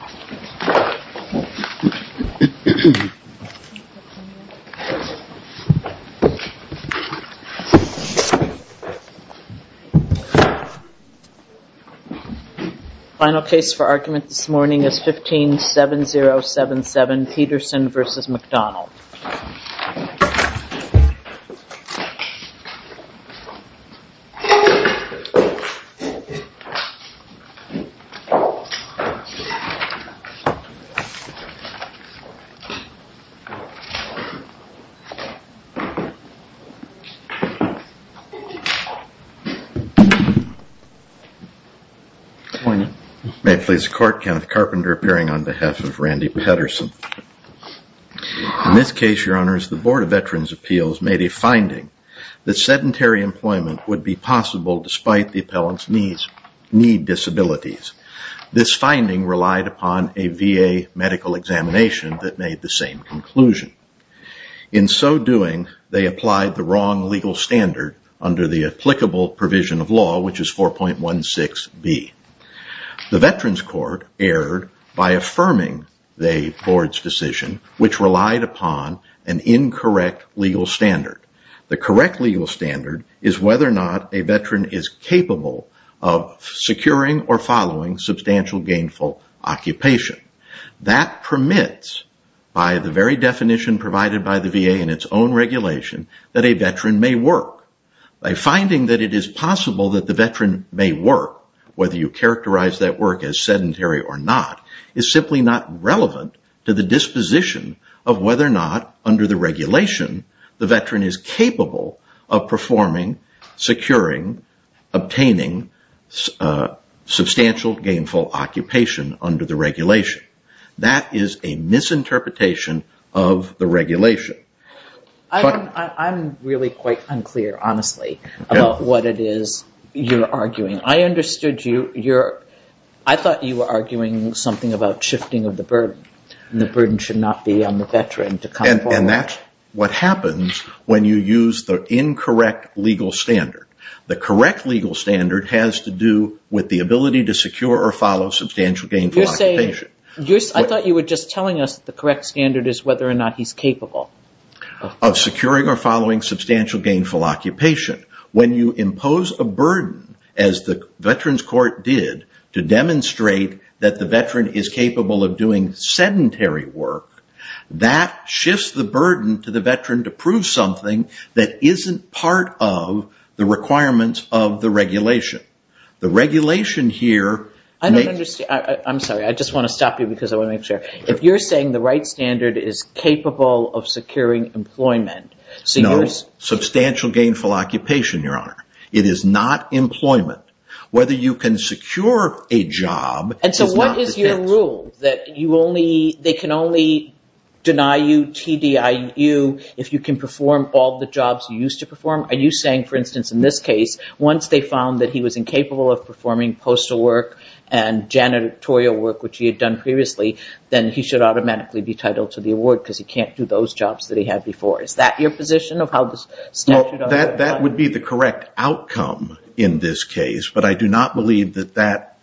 The final case for argument this morning is 15-7077 Peterson v. McDonald May it please the court, Kenneth Carpenter appearing on behalf of Randy Peterson. In this case, your honors, the Board of Veterans' Appeals made a finding that sedentary employment would be possible despite the appellant's need disabilities. This finding relied upon a VA medical examination that made the same conclusion. In so doing, they applied the wrong legal standard under the applicable provision of law, which is 4.16b. The Veterans Court erred by affirming the Board's decision, which relied upon an incorrect legal standard. The correct legal standard is whether or not a veteran is capable of securing or following substantial gainful occupation. That permits, by the very definition provided by the VA in its own regulation, that a veteran may work. By finding that it is possible that the veteran may work, whether you characterize that work as sedentary or not, is simply not relevant to the disposition of whether or not, under the regulation, the veteran is capable of performing, securing, obtaining substantial gainful occupation under the regulation. That is a misinterpretation of the regulation. I'm really quite unclear, honestly, about what it is you're arguing. I thought you were arguing something about shifting of the burden. The burden should not be on the veteran to come forward. And that's what happens when you use the incorrect legal standard. The correct legal standard has to do with the ability to secure or follow substantial gainful occupation. I thought you were just telling us the correct standard is whether or not he's capable. Of securing or following substantial gainful occupation. When you impose a burden, as the Veterans Court did, to demonstrate that the veteran is capable of doing sedentary work, that shifts the burden to the veteran to prove something that isn't part of the requirements of the regulation. The regulation here... I'm sorry, I just want to stop you because I want to make sure. If you're saying the right standard is capable of securing employment... No, substantial gainful occupation, Your Honor. It is not employment. Whether you can secure a job is not dependent. And so what is your rule? That they can only deny you TDIU if you can perform all the jobs you used to perform? Are you saying, for instance, in this case, once they found that he was incapable of performing postal work and janitorial work, which he had done previously, then he should automatically be titled to the award because he can't do those jobs that he had before? Is that your position of how the statute... That would be the correct outcome in this case. But I do not believe that that,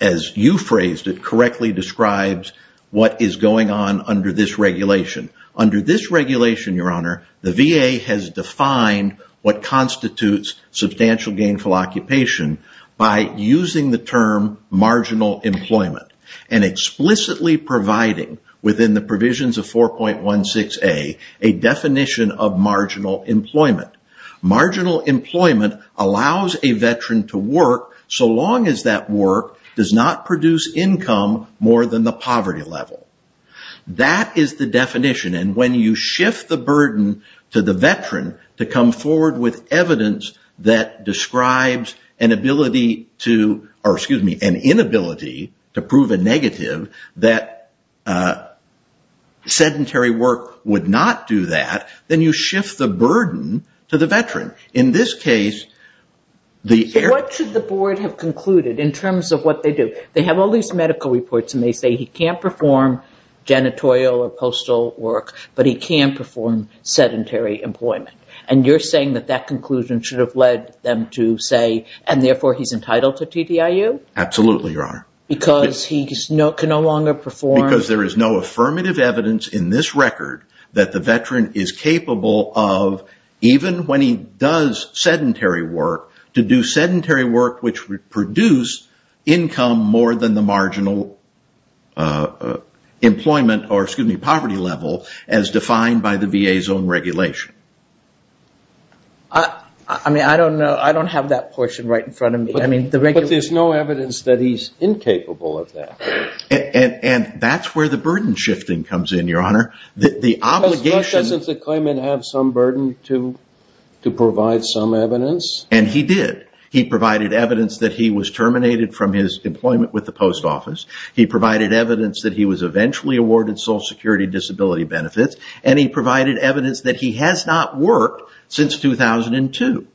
as you phrased it, correctly describes what is going on under this regulation. Under this regulation, Your Honor, the VA has defined what constitutes substantial gainful occupation by using the term marginal employment and explicitly providing within the provisions of 4.16a a definition of marginal employment. Marginal employment allows a veteran to work so long as that work does not produce income more than the poverty level. That is the definition. And when you shift the burden to the veteran to come forward with evidence that describes an inability to prove a negative, that sedentary work would not do that, then you shift the burden to the veteran. In this case... What should the board have concluded in terms of what they do? They have all these medical reports and they say he can't perform janitorial or postal work, but he can perform sedentary employment. And you're saying that that conclusion should have led them to say, and therefore he's entitled to TDIU? Absolutely, Your Honor. Because he can no longer perform... Because there is no affirmative evidence in this record that the veteran is capable of, even when he does sedentary work, to do sedentary work which would produce income more than the marginal employment or, excuse me, poverty level as defined by the VA's own regulation. I mean, I don't know. I don't have that portion right in front of me. I mean, the regular... But there's no evidence that he's incapable of that. And that's where the burden shifting comes in, Your Honor. But doesn't the claimant have some burden to provide some evidence? And he did. He provided evidence that he was terminated from his employment with the post office. He provided evidence that he was eventually awarded Social Security disability benefits. And he provided evidence that he has not worked since 2002.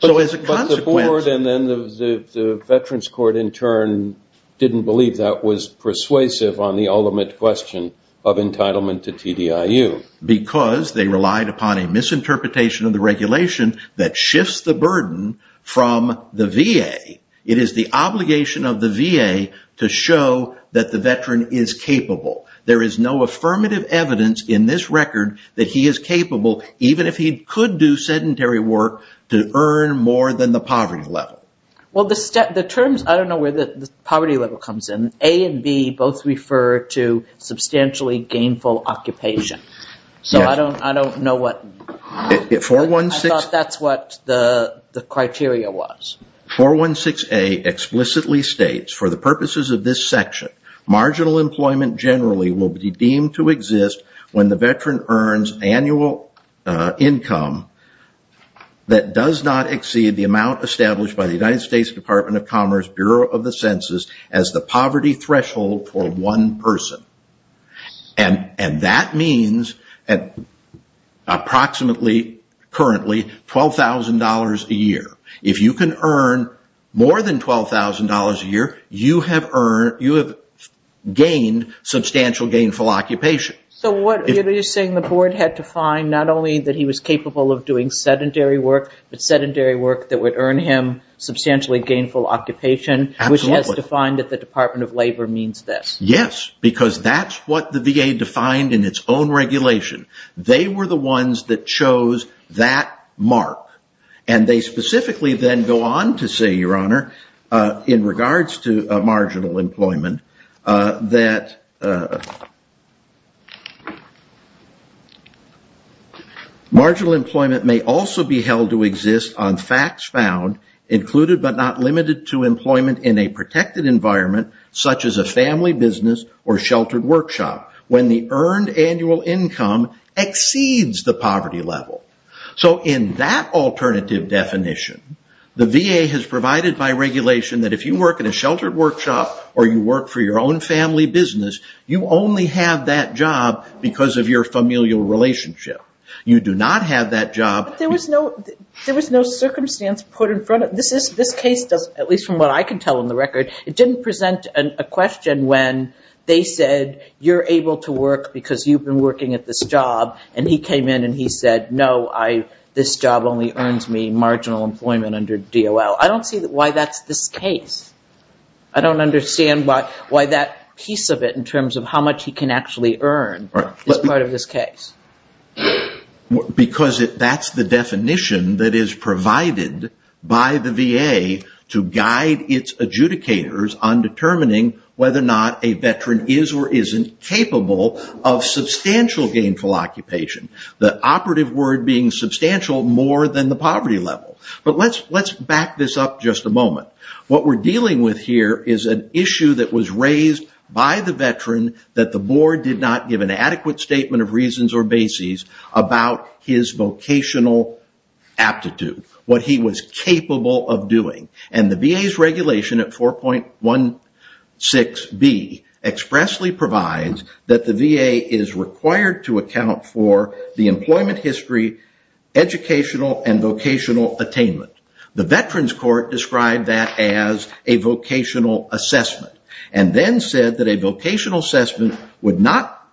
So as a consequence... And then the Veterans Court, in turn, didn't believe that was persuasive on the ultimate question of entitlement to TDIU. Because they relied upon a misinterpretation of the regulation that shifts the burden from the VA. It is the obligation of the VA to show that the veteran is capable. There is no affirmative evidence in this record that he is capable, even if he could do sedentary work, to earn more than the poverty level. Well, the terms... I don't know where the poverty level comes in. A and B both refer to substantially gainful occupation. So I don't know what... 416... I thought that's what the criteria was. 416A explicitly states, for the purposes of this section, marginal employment generally will be deemed to exist when the veteran earns annual income that does not exceed the amount established by the United States Department of Commerce Bureau of the Census as the poverty threshold for one person. And that means approximately, currently, $12,000 a year. If you can earn more than $12,000 a year, you have gained substantial gainful occupation. So what are you saying? The board had to find not only that he was capable of doing sedentary work, but sedentary work that would earn him substantially gainful occupation, which has defined that the Department of Labor means this. Yes, because that's what the VA defined in its own regulation. They were the ones that chose that mark. And they specifically then go on to say, Your Honor, in regards to marginal employment, that marginal employment may also be held to exist on facts found, included but not limited to employment in a protected environment, such as a family business or sheltered workshop, when the earned annual income exceeds the poverty level. So in that alternative definition, the VA has provided by regulation that if you work in a sheltered workshop or you work for your own family business, you only have that job because of your familial relationship. You do not have that job. There was no circumstance put in front of it. This case does, at least from what I can tell on the record, it didn't present a question when they said, You're able to work because you've been working at this job. And he came in and he said, No, this job only earns me marginal employment under DOL. I don't see why that's this case. I don't understand why that piece of it in terms of how much he can actually earn is part of this case. Because that's the definition that is provided by the VA to guide its adjudicators on determining whether or not a veteran is or isn't capable of substantial gainful occupation. The operative word being substantial more than the poverty level. But let's back this up just a moment. What we're dealing with here is an issue that was raised by the veteran that the board did not give an adequate statement of reasons or bases about his vocational aptitude, what he was capable of doing. And the VA's regulation at 4.16b expressly provides that the VA is required to account for the employment history, educational and vocational attainment. The veterans court described that as a vocational assessment. And then said that a vocational assessment did not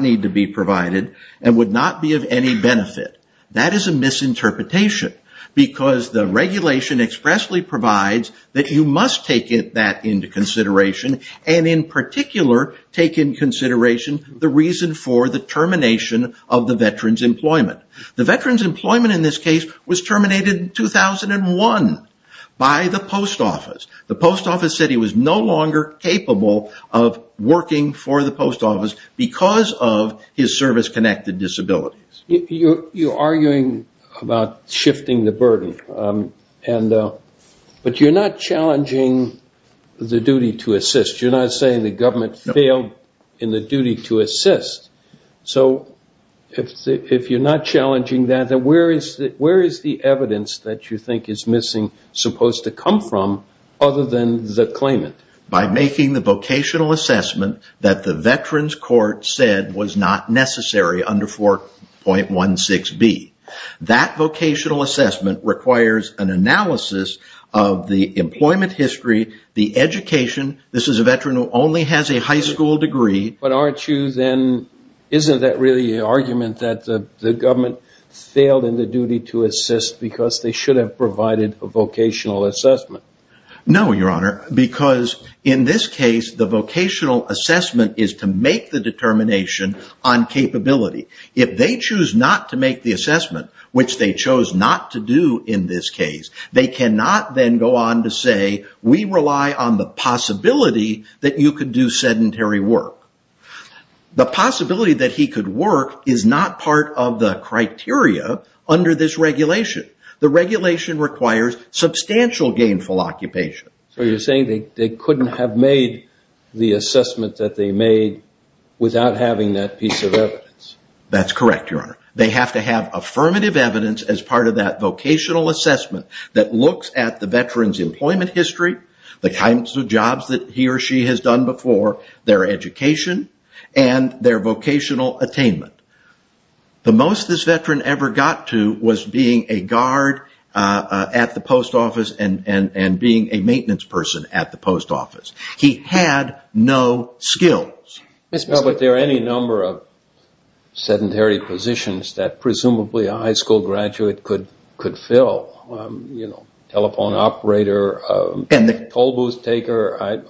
need to be provided and would not be of any benefit. That is a misinterpretation because the regulation expressly provides that you must take that into consideration and in particular take into consideration the reason for the termination of the veteran's employment. The veteran's employment in this case was terminated in 2001 by the post office. The post office said he was no longer capable of working for the post office because of his service-connected disabilities. You're arguing about shifting the burden. But you're not challenging the duty to assist. You're not saying the government failed in the duty to assist. So if you're not challenging that, then where is the evidence that you think is missing supposed to come from other than the claimant? By making the vocational assessment that the veterans court said was not necessary under 4.16b. That vocational assessment requires an analysis of the employment history, the education. This is a veteran who only has a high school degree. But aren't you then, isn't that really an argument that the government failed in the duty to assist because they should have provided a vocational assessment? No, Your Honor, because in this case the vocational assessment is to make the determination on capability. If they choose not to make the assessment, which they chose not to do in this case, they cannot then go on to say we rely on the possibility that you could do sedentary work. The possibility that he could work is not part of the criteria under this regulation. The regulation requires substantial gainful occupation. So you're saying they couldn't have made the assessment that they made without having that piece of evidence. That's correct, Your Honor. They have to have affirmative evidence as part of that vocational assessment that looks at the veteran's employment history, the kinds of jobs that he or she has done before, their education, and their vocational attainment. The most this veteran ever got to was being a guard at the post office and being a maintenance person at the post office. He had no skills. But there are any number of sedentary positions that presumably a high school graduate could fill. Telephone operator, toll booth taker.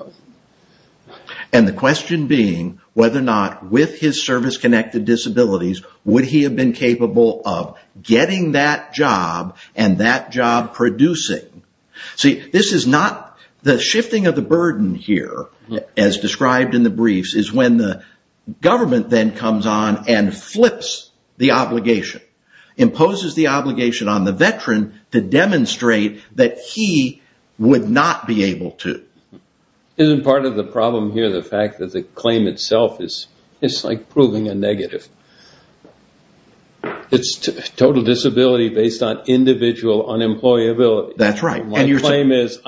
And the question being whether or not with his service-connected disabilities, would he have been capable of getting that job and that job producing. The shifting of the burden here, as described in the briefs, is when the government then comes on and flips the obligation. Imposes the obligation on the veteran to demonstrate that he would not be able to. Isn't part of the problem here the fact that the claim itself is like proving a negative. It's total disability based on individual unemployability. That's right. My claim is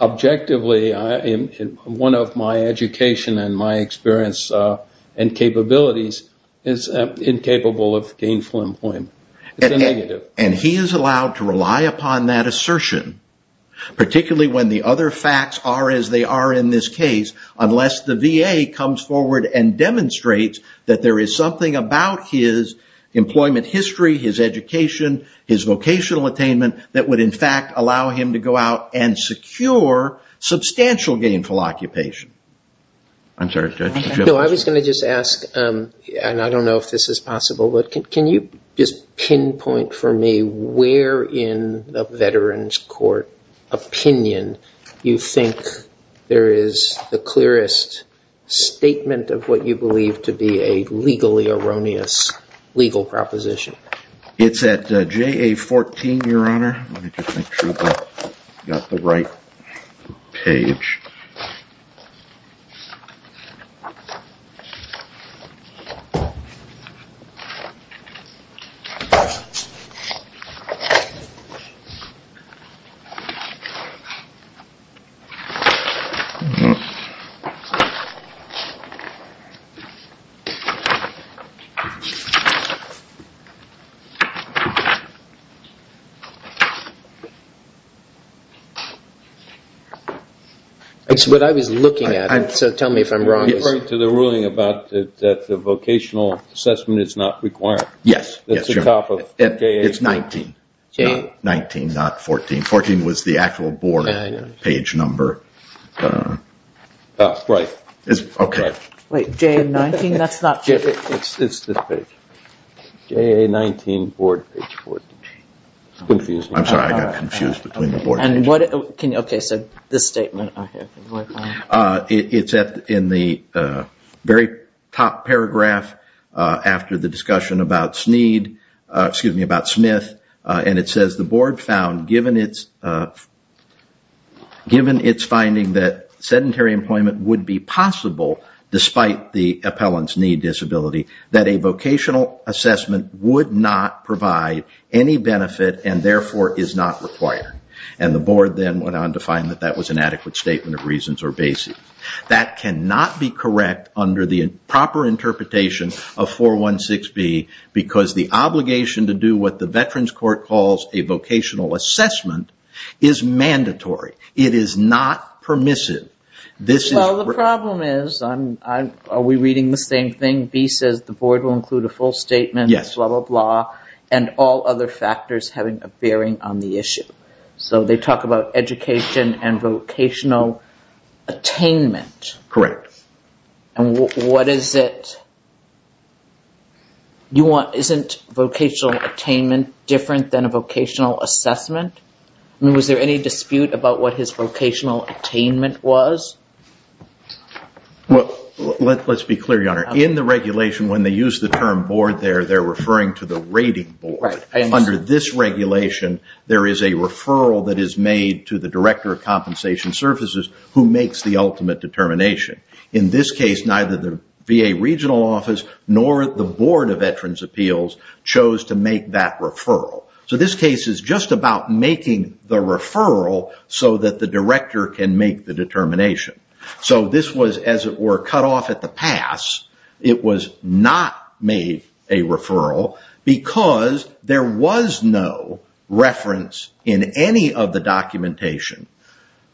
objectively one of my education and my experience and capabilities is incapable of gainful employment. It's a negative. And he is allowed to rely upon that assertion, particularly when the other facts are as they are in this case, unless the VA comes forward and demonstrates that there is something about his employment history, his education, his vocational attainment, that would in fact allow him to go out and secure substantial gainful occupation. I was going to just ask, and I don't know if this is possible, but can you just pinpoint for me where in the veteran's court opinion you think there is the clearest statement of what you believe to be a legally erroneous legal proposition? It's at JA 14, Your Honor. Let me just make sure I've got the right page. Okay. It's what I was looking at, so tell me if I'm wrong. I'm referring to the ruling about that the vocational assessment is not required. Yes. It's the top of JA. It's 19, not 14. 14 was the actual board page number. Right. Okay. Wait, JA 19? That's not. It's this page. JA 19, board page 14. It's confusing. I'm sorry, I got confused between the board page. Okay, so this statement. It's in the very top paragraph after the discussion about Smith, and it says the board found given its finding that sedentary employment would be possible despite the appellant's need disability that a vocational assessment would not provide any benefit and therefore is not required. And the board then went on to find that that was an adequate statement of reasons or basis. That cannot be correct under the proper interpretation of 416B because the obligation to do what the Veterans Court calls a vocational assessment is mandatory. It is not permissive. Well, the problem is, are we reading the same thing? B says the board will include a full statement, blah, blah, blah, and all other factors having a bearing on the issue. So they talk about education and vocational attainment. Correct. And what is it? Isn't vocational attainment different than a vocational assessment? Was there any dispute about what his vocational attainment was? Let's be clear, Your Honor. In the regulation, when they use the term board there, they're referring to the rating board. Under this regulation, there is a referral that is made to the director of compensation services who makes the ultimate determination. In this case, neither the VA regional office nor the Board of Veterans' Appeals chose to make that referral. So this case is just about making the referral so that the director can make the determination. So this was, as it were, cut off at the pass. It was not made a referral because there was no reference in any of the documentation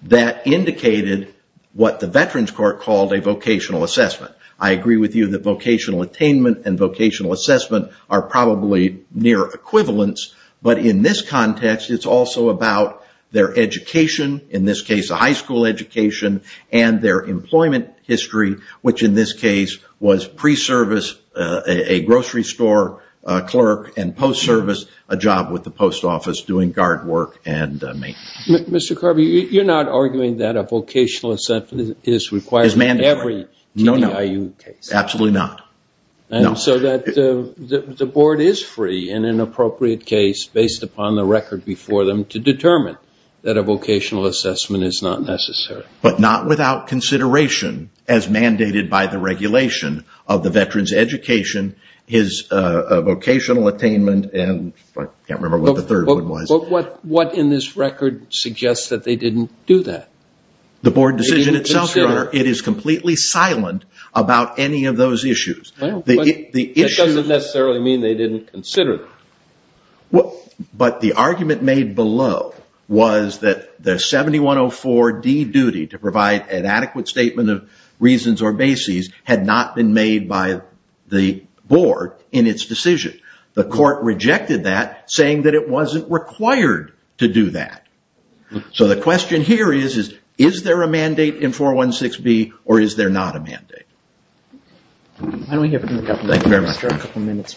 that indicated what the Veterans Court called a vocational assessment. I agree with you that vocational attainment and vocational assessment are probably near equivalents. But in this context, it's also about their education, in this case a high school education, and their employment history, which in this case was pre-service, a grocery store clerk, and post-service, a job with the post office doing guard work and maintenance. Mr. Carvey, you're not arguing that a vocational assessment is required in every TDIU case? Absolutely not. So the board is free in an appropriate case based upon the record before them to determine that a vocational assessment is not necessary. But not without consideration as mandated by the regulation of the veterans' education, his vocational attainment, and I can't remember what the third one was. But what in this record suggests that they didn't do that? The board decision itself, Your Honor, it is completely silent about any of those issues. That doesn't necessarily mean they didn't consider it. But the argument made below was that the 7104D duty to provide an adequate statement of reasons or bases had not been made by the board in its decision. The court rejected that, saying that it wasn't required to do that. So the question here is, is there a mandate in 416B or is there not a mandate? Why don't we give Mr. Carvey a couple of minutes?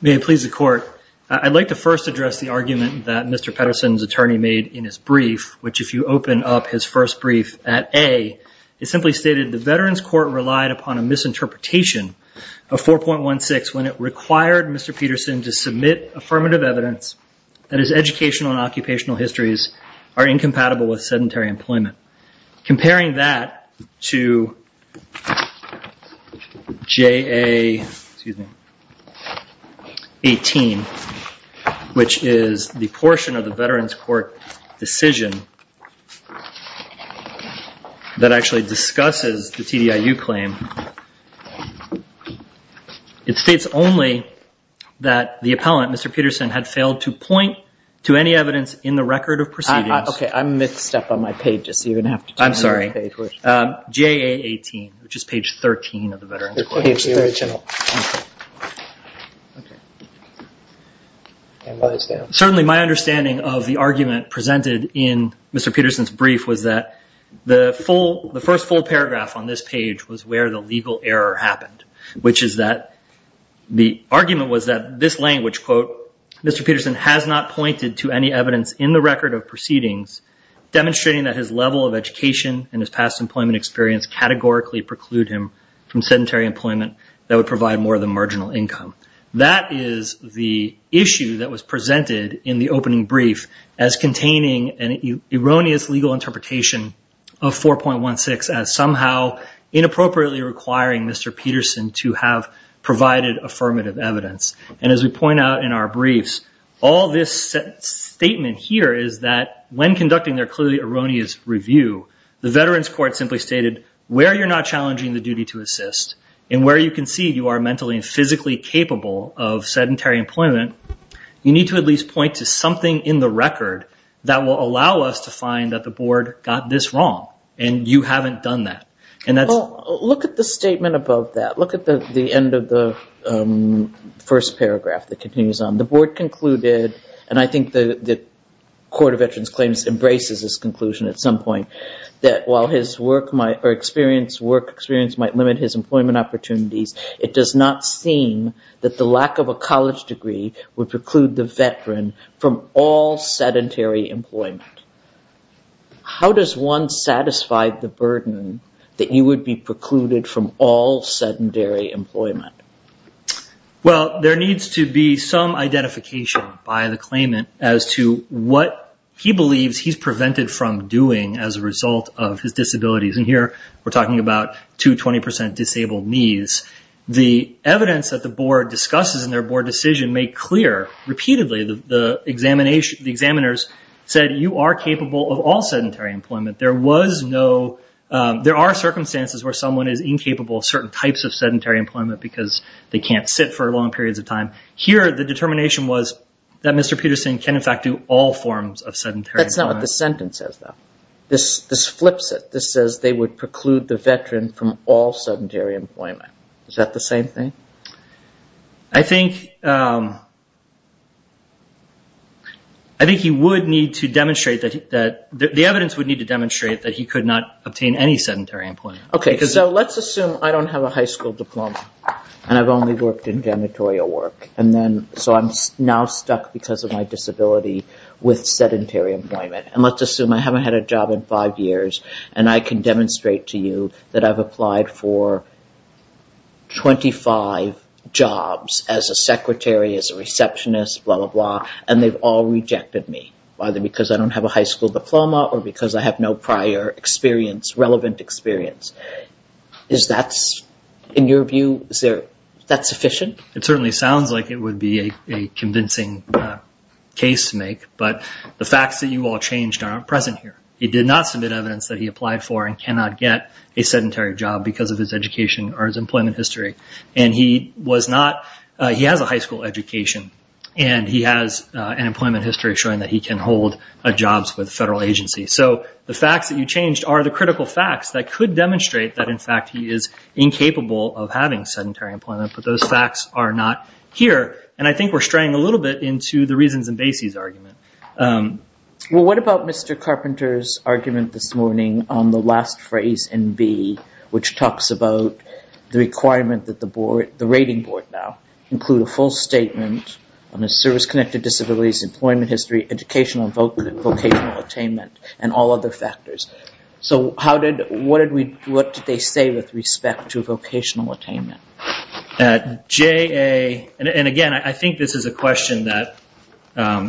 May it please the court, I'd like to first address the argument that Mr. Pedersen's attorney made in his brief, which if you open up his first brief at A, it simply stated the veterans' court relied upon a misinterpretation of 4.16 when it required Mr. Pedersen to submit affirmative evidence that his educational and occupational histories are incompatible with sedentary employment. Comparing that to J.A. 18, which is the portion of the veterans' court decision that actually discusses the TDIU claim, it states only that the appellant, Mr. Pedersen, had failed to point to any evidence in the record of proceedings. Okay, I missed a step on my page. I'm sorry. J.A. 18, which is page 13 of the veterans' court. Certainly my understanding of the argument presented in Mr. Pedersen's brief was that the first full paragraph on this page was where the legal error happened, which is that the argument was that this language, Mr. Pedersen has not pointed to any evidence in the record of proceedings demonstrating that his level of education and his past employment experience categorically preclude him from sedentary employment that would provide more than marginal income. That is the issue that was presented in the opening brief as containing an erroneous legal interpretation of 4.16 as somehow inappropriately requiring Mr. Pedersen to have provided affirmative evidence. And as we point out in our briefs, all this statement here is that when conducting their clearly erroneous review, the veterans' court simply stated where you're not challenging the duty to assist and where you concede you are mentally and physically capable of sedentary employment, you need to at least point to something in the record that will allow us to find that the board got this wrong and you haven't done that. Look at the statement above that. Look at the end of the first paragraph that continues on. The board concluded, and I think the court of veterans' claims embraces this conclusion at some point, that while his work experience might limit his employment opportunities, it does not seem that the lack of a college degree would preclude the veteran from all sedentary employment. How does one satisfy the burden that you would be precluded from all sedentary employment? Well, there needs to be some identification by the claimant as to what he believes he's prevented from doing as a result of his disabilities. And here we're talking about two 20% disabled needs. The evidence that the board discusses in their board decision made clear repeatedly, the examiners said you are capable of all sedentary employment. There are circumstances where someone is incapable of certain types of sedentary employment because they can't sit for long periods of time. Here the determination was that Mr. Peterson can in fact do all forms of sedentary employment. That's not what the sentence says, though. This flips it. This says they would preclude the veteran from all sedentary employment. Is that the same thing? I think he would need to demonstrate that he could not obtain any sedentary employment. Okay, so let's assume I don't have a high school diploma and I've only worked in janitorial work. So I'm now stuck because of my disability with sedentary employment. And let's assume I haven't had a job in five years and I can demonstrate to you that I've applied for 25 jobs as a secretary, as a receptionist, blah, blah, blah, and they've all rejected me, either because I don't have a high school diploma or because I have no prior experience, relevant experience. Is that, in your view, is that sufficient? It certainly sounds like it would be a convincing case to make. But the facts that you all changed aren't present here. He did not submit evidence that he applied for and cannot get a sedentary job because of his education or his employment history. And he has a high school education and he has an employment history showing that he can hold jobs with a federal agency. So the facts that you changed are the critical facts that could demonstrate that, in fact, he is incapable of having sedentary employment, but those facts are not here. And I think we're straying a little bit into the reasons in Basie's argument. Well, what about Mr. Carpenter's argument this morning on the last phrase in B, which talks about the requirement that the rating board now include a full statement on a service-connected disability's employment history, educational and vocational attainment, and all other factors. So what did they say with respect to vocational attainment? And, again, I think this is a question that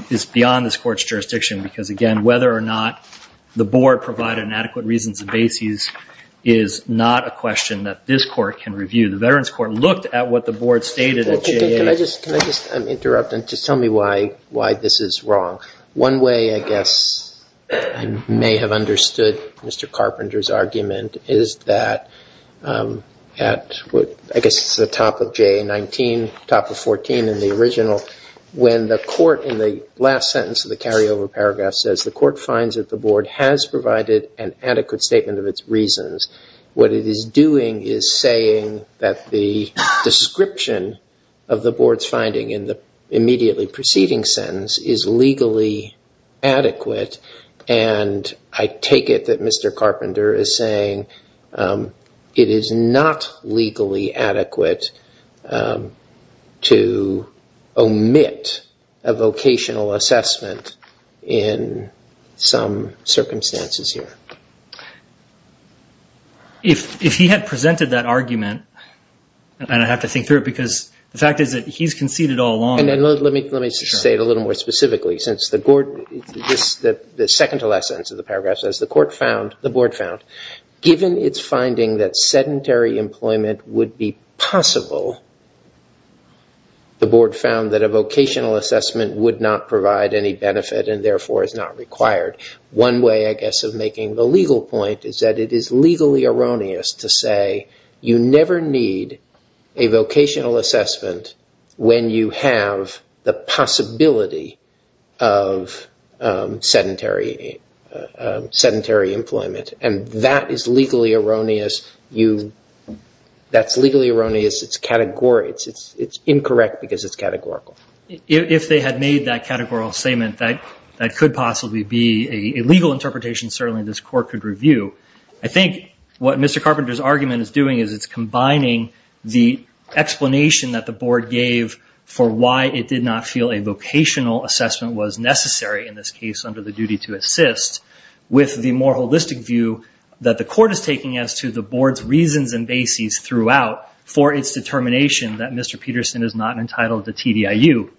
is beyond this court's jurisdiction because, again, whether or not the board provided adequate reasons in Basie's is not a question that this court can review. The Veterans Court looked at what the board stated at JA. Can I just interrupt and just tell me why this is wrong? One way, I guess, I may have understood Mr. Carpenter's argument is that at, I guess, the top of JA-19, top of 14 in the original, when the court, in the last sentence of the carryover paragraph, says the court finds that the board has provided an adequate statement of its reasons, what it is doing is saying that the description of the board's finding in the immediately preceding sentence is legally adequate, and I take it that Mr. Carpenter is saying it is not legally adequate to omit a vocational assessment in some circumstances here. If he had presented that argument, and I have to think through it because the fact is that he's conceded all along. Let me say it a little more specifically. Since the second to last sentence of the paragraph says the board found, given its finding that sedentary employment would be possible, the board found that a vocational assessment would not provide any benefit and, therefore, is not required. One way, I guess, of making the legal point is that it is legally erroneous to say you never need a vocational assessment when you have the possibility of sedentary employment, and that is legally erroneous. That's legally erroneous. It's incorrect because it's categorical. If they had made that categorical statement, that could possibly be a legal interpretation certainly this court could review. I think what Mr. Carpenter's argument is doing is it's combining the explanation that the board gave for why it did not feel a vocational assessment was necessary in this case under the duty to assist with the more holistic view that the court is taking as to the board's reasons and bases throughout for its determination that Mr. Peterson is not entitled to TDIU.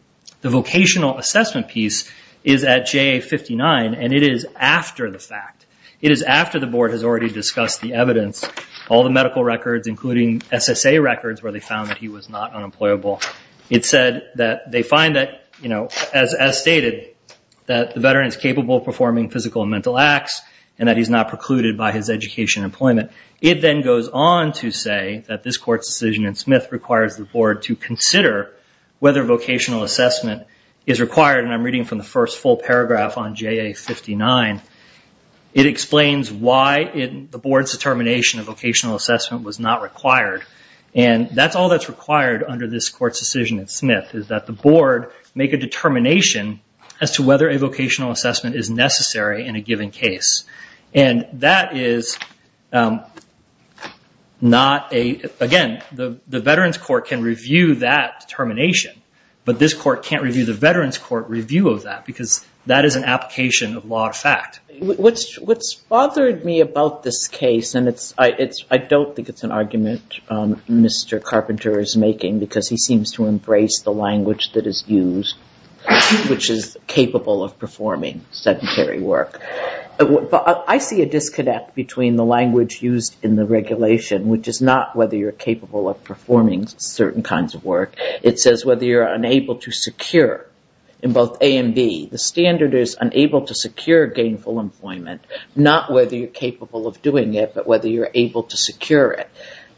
The vocational assessment piece is at JA59, and it is after the fact. It is after the board has already discussed the evidence, all the medical records including SSA records where they found that he was not unemployable. It said that they find that, as stated, that the veteran is capable of performing physical and mental acts and that he's not precluded by his education and employment. It then goes on to say that this court's decision in Smith requires the board to consider whether vocational assessment is It explains why the board's determination of vocational assessment was not required, and that's all that's required under this court's decision in Smith is that the board make a determination as to whether a vocational assessment is necessary in a given case. That is not a... Again, the veterans court can review that determination, but this court can't review the veterans court review of that because that is an application of law of fact. What's bothered me about this case, and I don't think it's an argument Mr. Carpenter is making because he seems to embrace the language that is used, which is capable of performing sedentary work. I see a disconnect between the language used in the regulation, which is not whether you're capable of performing certain kinds of work. It says whether you're unable to secure in both A and B. The standard is unable to secure gainful employment, not whether you're capable of doing it, but whether you're able to secure it.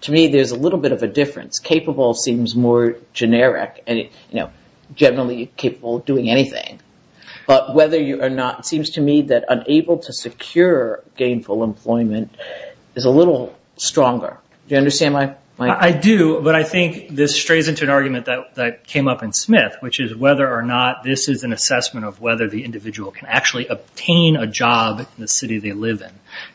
To me, there's a little bit of a difference. Capable seems more generic and generally capable of doing anything, but whether you are not, it seems to me that unable to secure gainful employment is a little stronger. Do you understand my... There's another argument that came up in Smith, which is whether or not this is an assessment of whether the individual can actually obtain a job in the city they live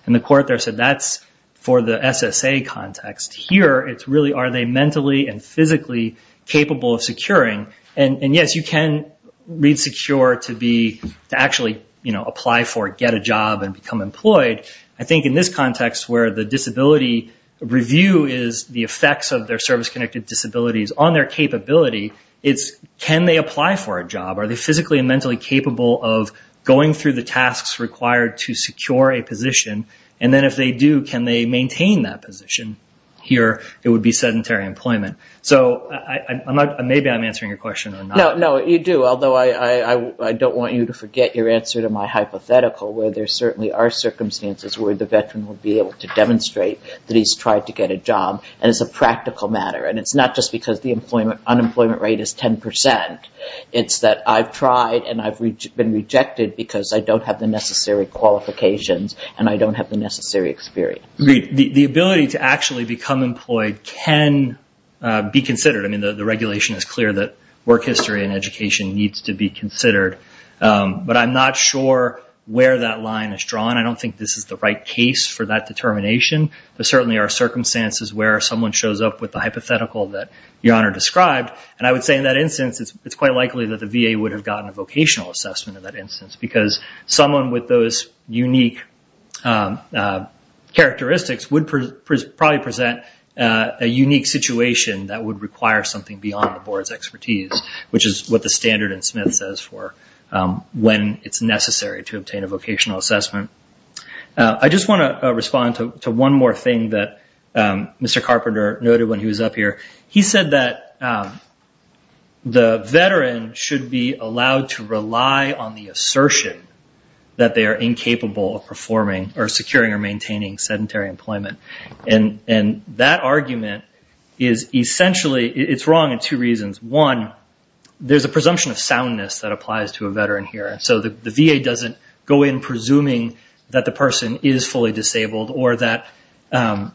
in. The court there said that's for the SSA context. Here, it's really are they mentally and physically capable of securing. Yes, you can read secure to actually apply for, get a job, and become employed. I think in this context where the disability review is the effects of their service-connected disabilities on their capability, it's can they apply for a job? Are they physically and mentally capable of going through the tasks required to secure a position? Then if they do, can they maintain that position? Here, it would be sedentary employment. Maybe I'm answering your question or not. No, you do, although I don't want you to forget your answer to my hypothetical where there certainly are circumstances where the veteran would be able to demonstrate that he's tried to get a job. It's a practical matter. It's not just because the unemployment rate is 10%. It's that I've tried and I've been rejected because I don't have the necessary qualifications and I don't have the necessary experience. The ability to actually become employed can be considered. I mean, the regulation is clear that work history and education needs to be considered. But I'm not sure where that line is drawn. I don't think this is the right case for that determination. There certainly are circumstances where someone shows up with the hypothetical that Your Honor described, and I would say in that instance it's quite likely that the VA would have gotten a vocational assessment in that instance because someone with those unique characteristics would probably present a unique situation that would require something beyond the board's expertise, which is what the standard in Smith says for when it's necessary to obtain a vocational assessment. I just want to respond to one more thing that Mr. Carpenter noted when he was up here. He said that the veteran should be allowed to rely on the assertion that they are incapable of securing or maintaining sedentary employment. And that argument is essentially wrong in two reasons. One, there's a presumption of soundness that applies to a veteran here. So the VA doesn't go in presuming that the person is fully disabled. And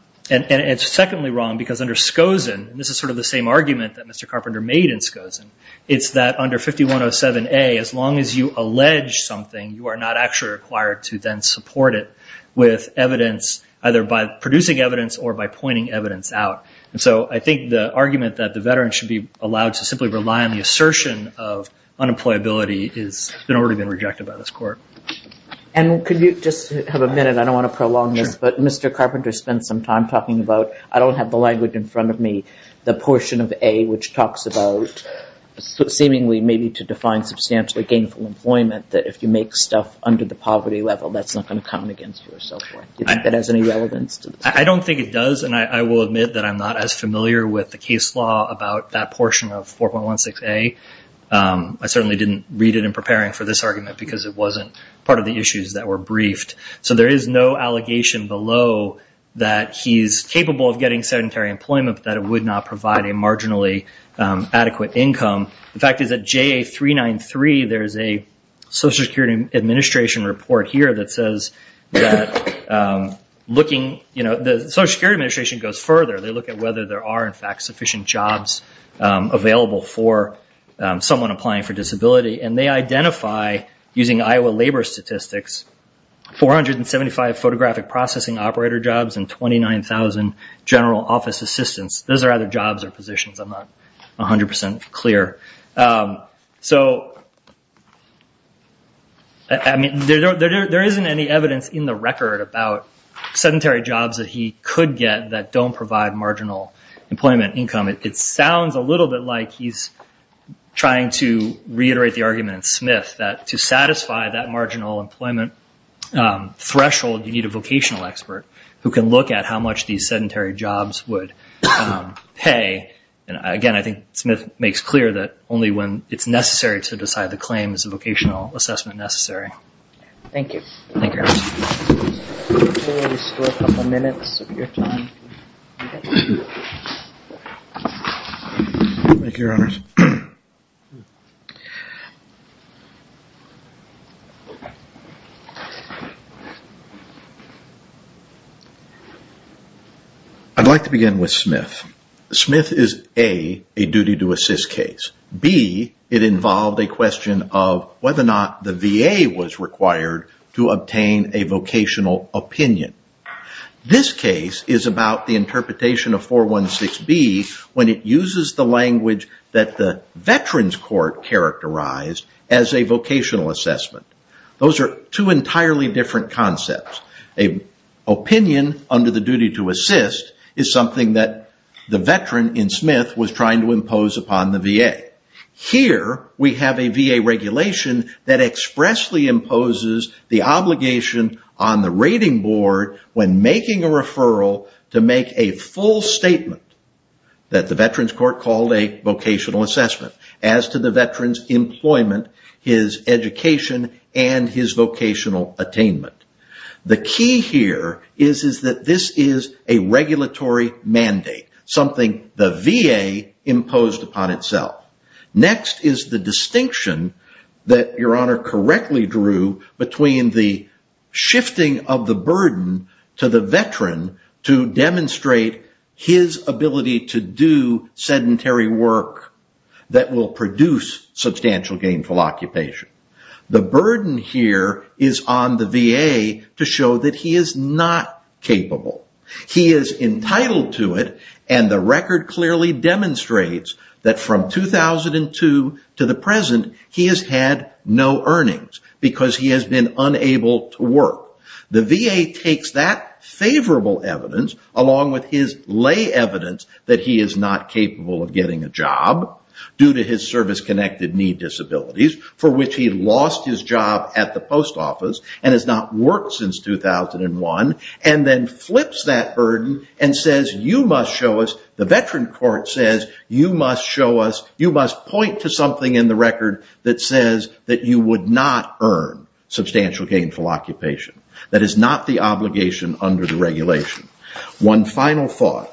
it's secondly wrong because under Skosen, and this is sort of the same argument that Mr. Carpenter made in Skosen, it's that under 5107A, as long as you allege something, you are not actually required to then support it with evidence, either by producing evidence or by pointing evidence out. And so I think the argument that the veteran should be allowed to simply rely on the assertion of unemployability has already been rejected by this court. And could you just have a minute? I don't want to prolong this, but Mr. Carpenter spent some time talking about, I don't have the language in front of me, the portion of A which talks about seemingly maybe to define substantially gainful employment, that if you make stuff under the poverty level, that's not going to come against you or so forth. Do you think that has any relevance to this? I don't think it does, and I will admit that I'm not as familiar with the case law about that portion of 4.16A. I certainly didn't read it in preparing for this argument, because it wasn't part of the issues that were briefed. So there is no allegation below that he's capable of getting sedentary employment, but that it would not provide a marginally adequate income. The fact is that JA393, there's a Social Security Administration report here that says that looking, the Social Security Administration goes further. They look at whether there are, in fact, sufficient jobs available for someone applying for disability, and they identify, using Iowa labor statistics, 475 photographic processing operator jobs and 29,000 general office assistants. Those are either jobs or positions. I'm not 100% clear. So, I mean, there isn't any evidence in the record about sedentary jobs that he could get that don't provide marginal employment income. It sounds a little bit like he's trying to reiterate the argument in Smith, that to satisfy that marginal employment threshold, you need a vocational expert who can look at how much these sedentary jobs would pay. And, again, I think Smith makes clear that only when it's necessary to decide the claim is a vocational assessment necessary. Thank you. Thank you, Your Honors. We'll just go a couple minutes of your time. Thank you, Your Honors. I'd like to begin with Smith. Smith is, A, a duty-to-assist case. B, it involved a question of whether or not the VA was required to obtain a vocational opinion. This case is about the interpretation of 416B when it uses the language that the Veterans Court characterized as a vocational assessment. Those are two entirely different concepts. A opinion under the duty-to-assist is something that the veteran in Smith was trying to impose upon the VA. Here, we have a VA regulation that expressly imposes the obligation on the rating board when making a referral to make a full statement that the Veterans Court called a vocational assessment as to the veteran's employment, his education, and his vocational attainment. The key here is that this is a regulatory mandate, something the VA imposed upon itself. Next is the distinction that Your Honor correctly drew between the shifting of the burden to the veteran to demonstrate his ability to do sedentary work that will produce substantial gainful occupation. The burden here is on the VA to show that he is not capable. He is entitled to it, and the record clearly demonstrates that from 2002 to the present, he has had no earnings because he has been unable to work. The VA takes that favorable evidence along with his lay evidence that he is not capable of getting a job due to his service-connected need disabilities, for which he lost his job at the post office and has not worked since 2001, and then flips that burden and says, you must show us, the Veteran Court says, you must point to something in the record that says that you would not earn substantial gainful occupation. That is not the obligation under the regulation. One final thought,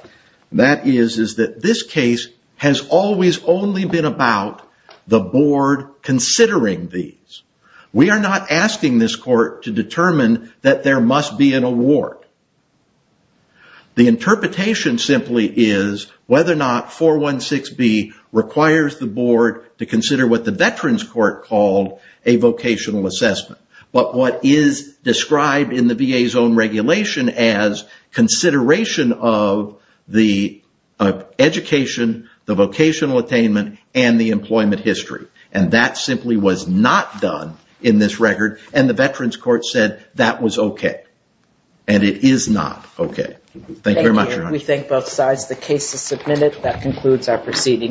that is that this case has always only been about the board considering these. We are not asking this court to determine that there must be an award. The interpretation simply is whether or not 416B requires the board to consider what the Veterans Court called a vocational assessment, but what is described in the VA's own regulation as consideration of the education, the vocational attainment, and the employment history, and that simply was not done in this record, and the Veterans Court said that was okay, and it is not okay. Thank you very much. We thank both sides. The case is submitted. That concludes our proceeding.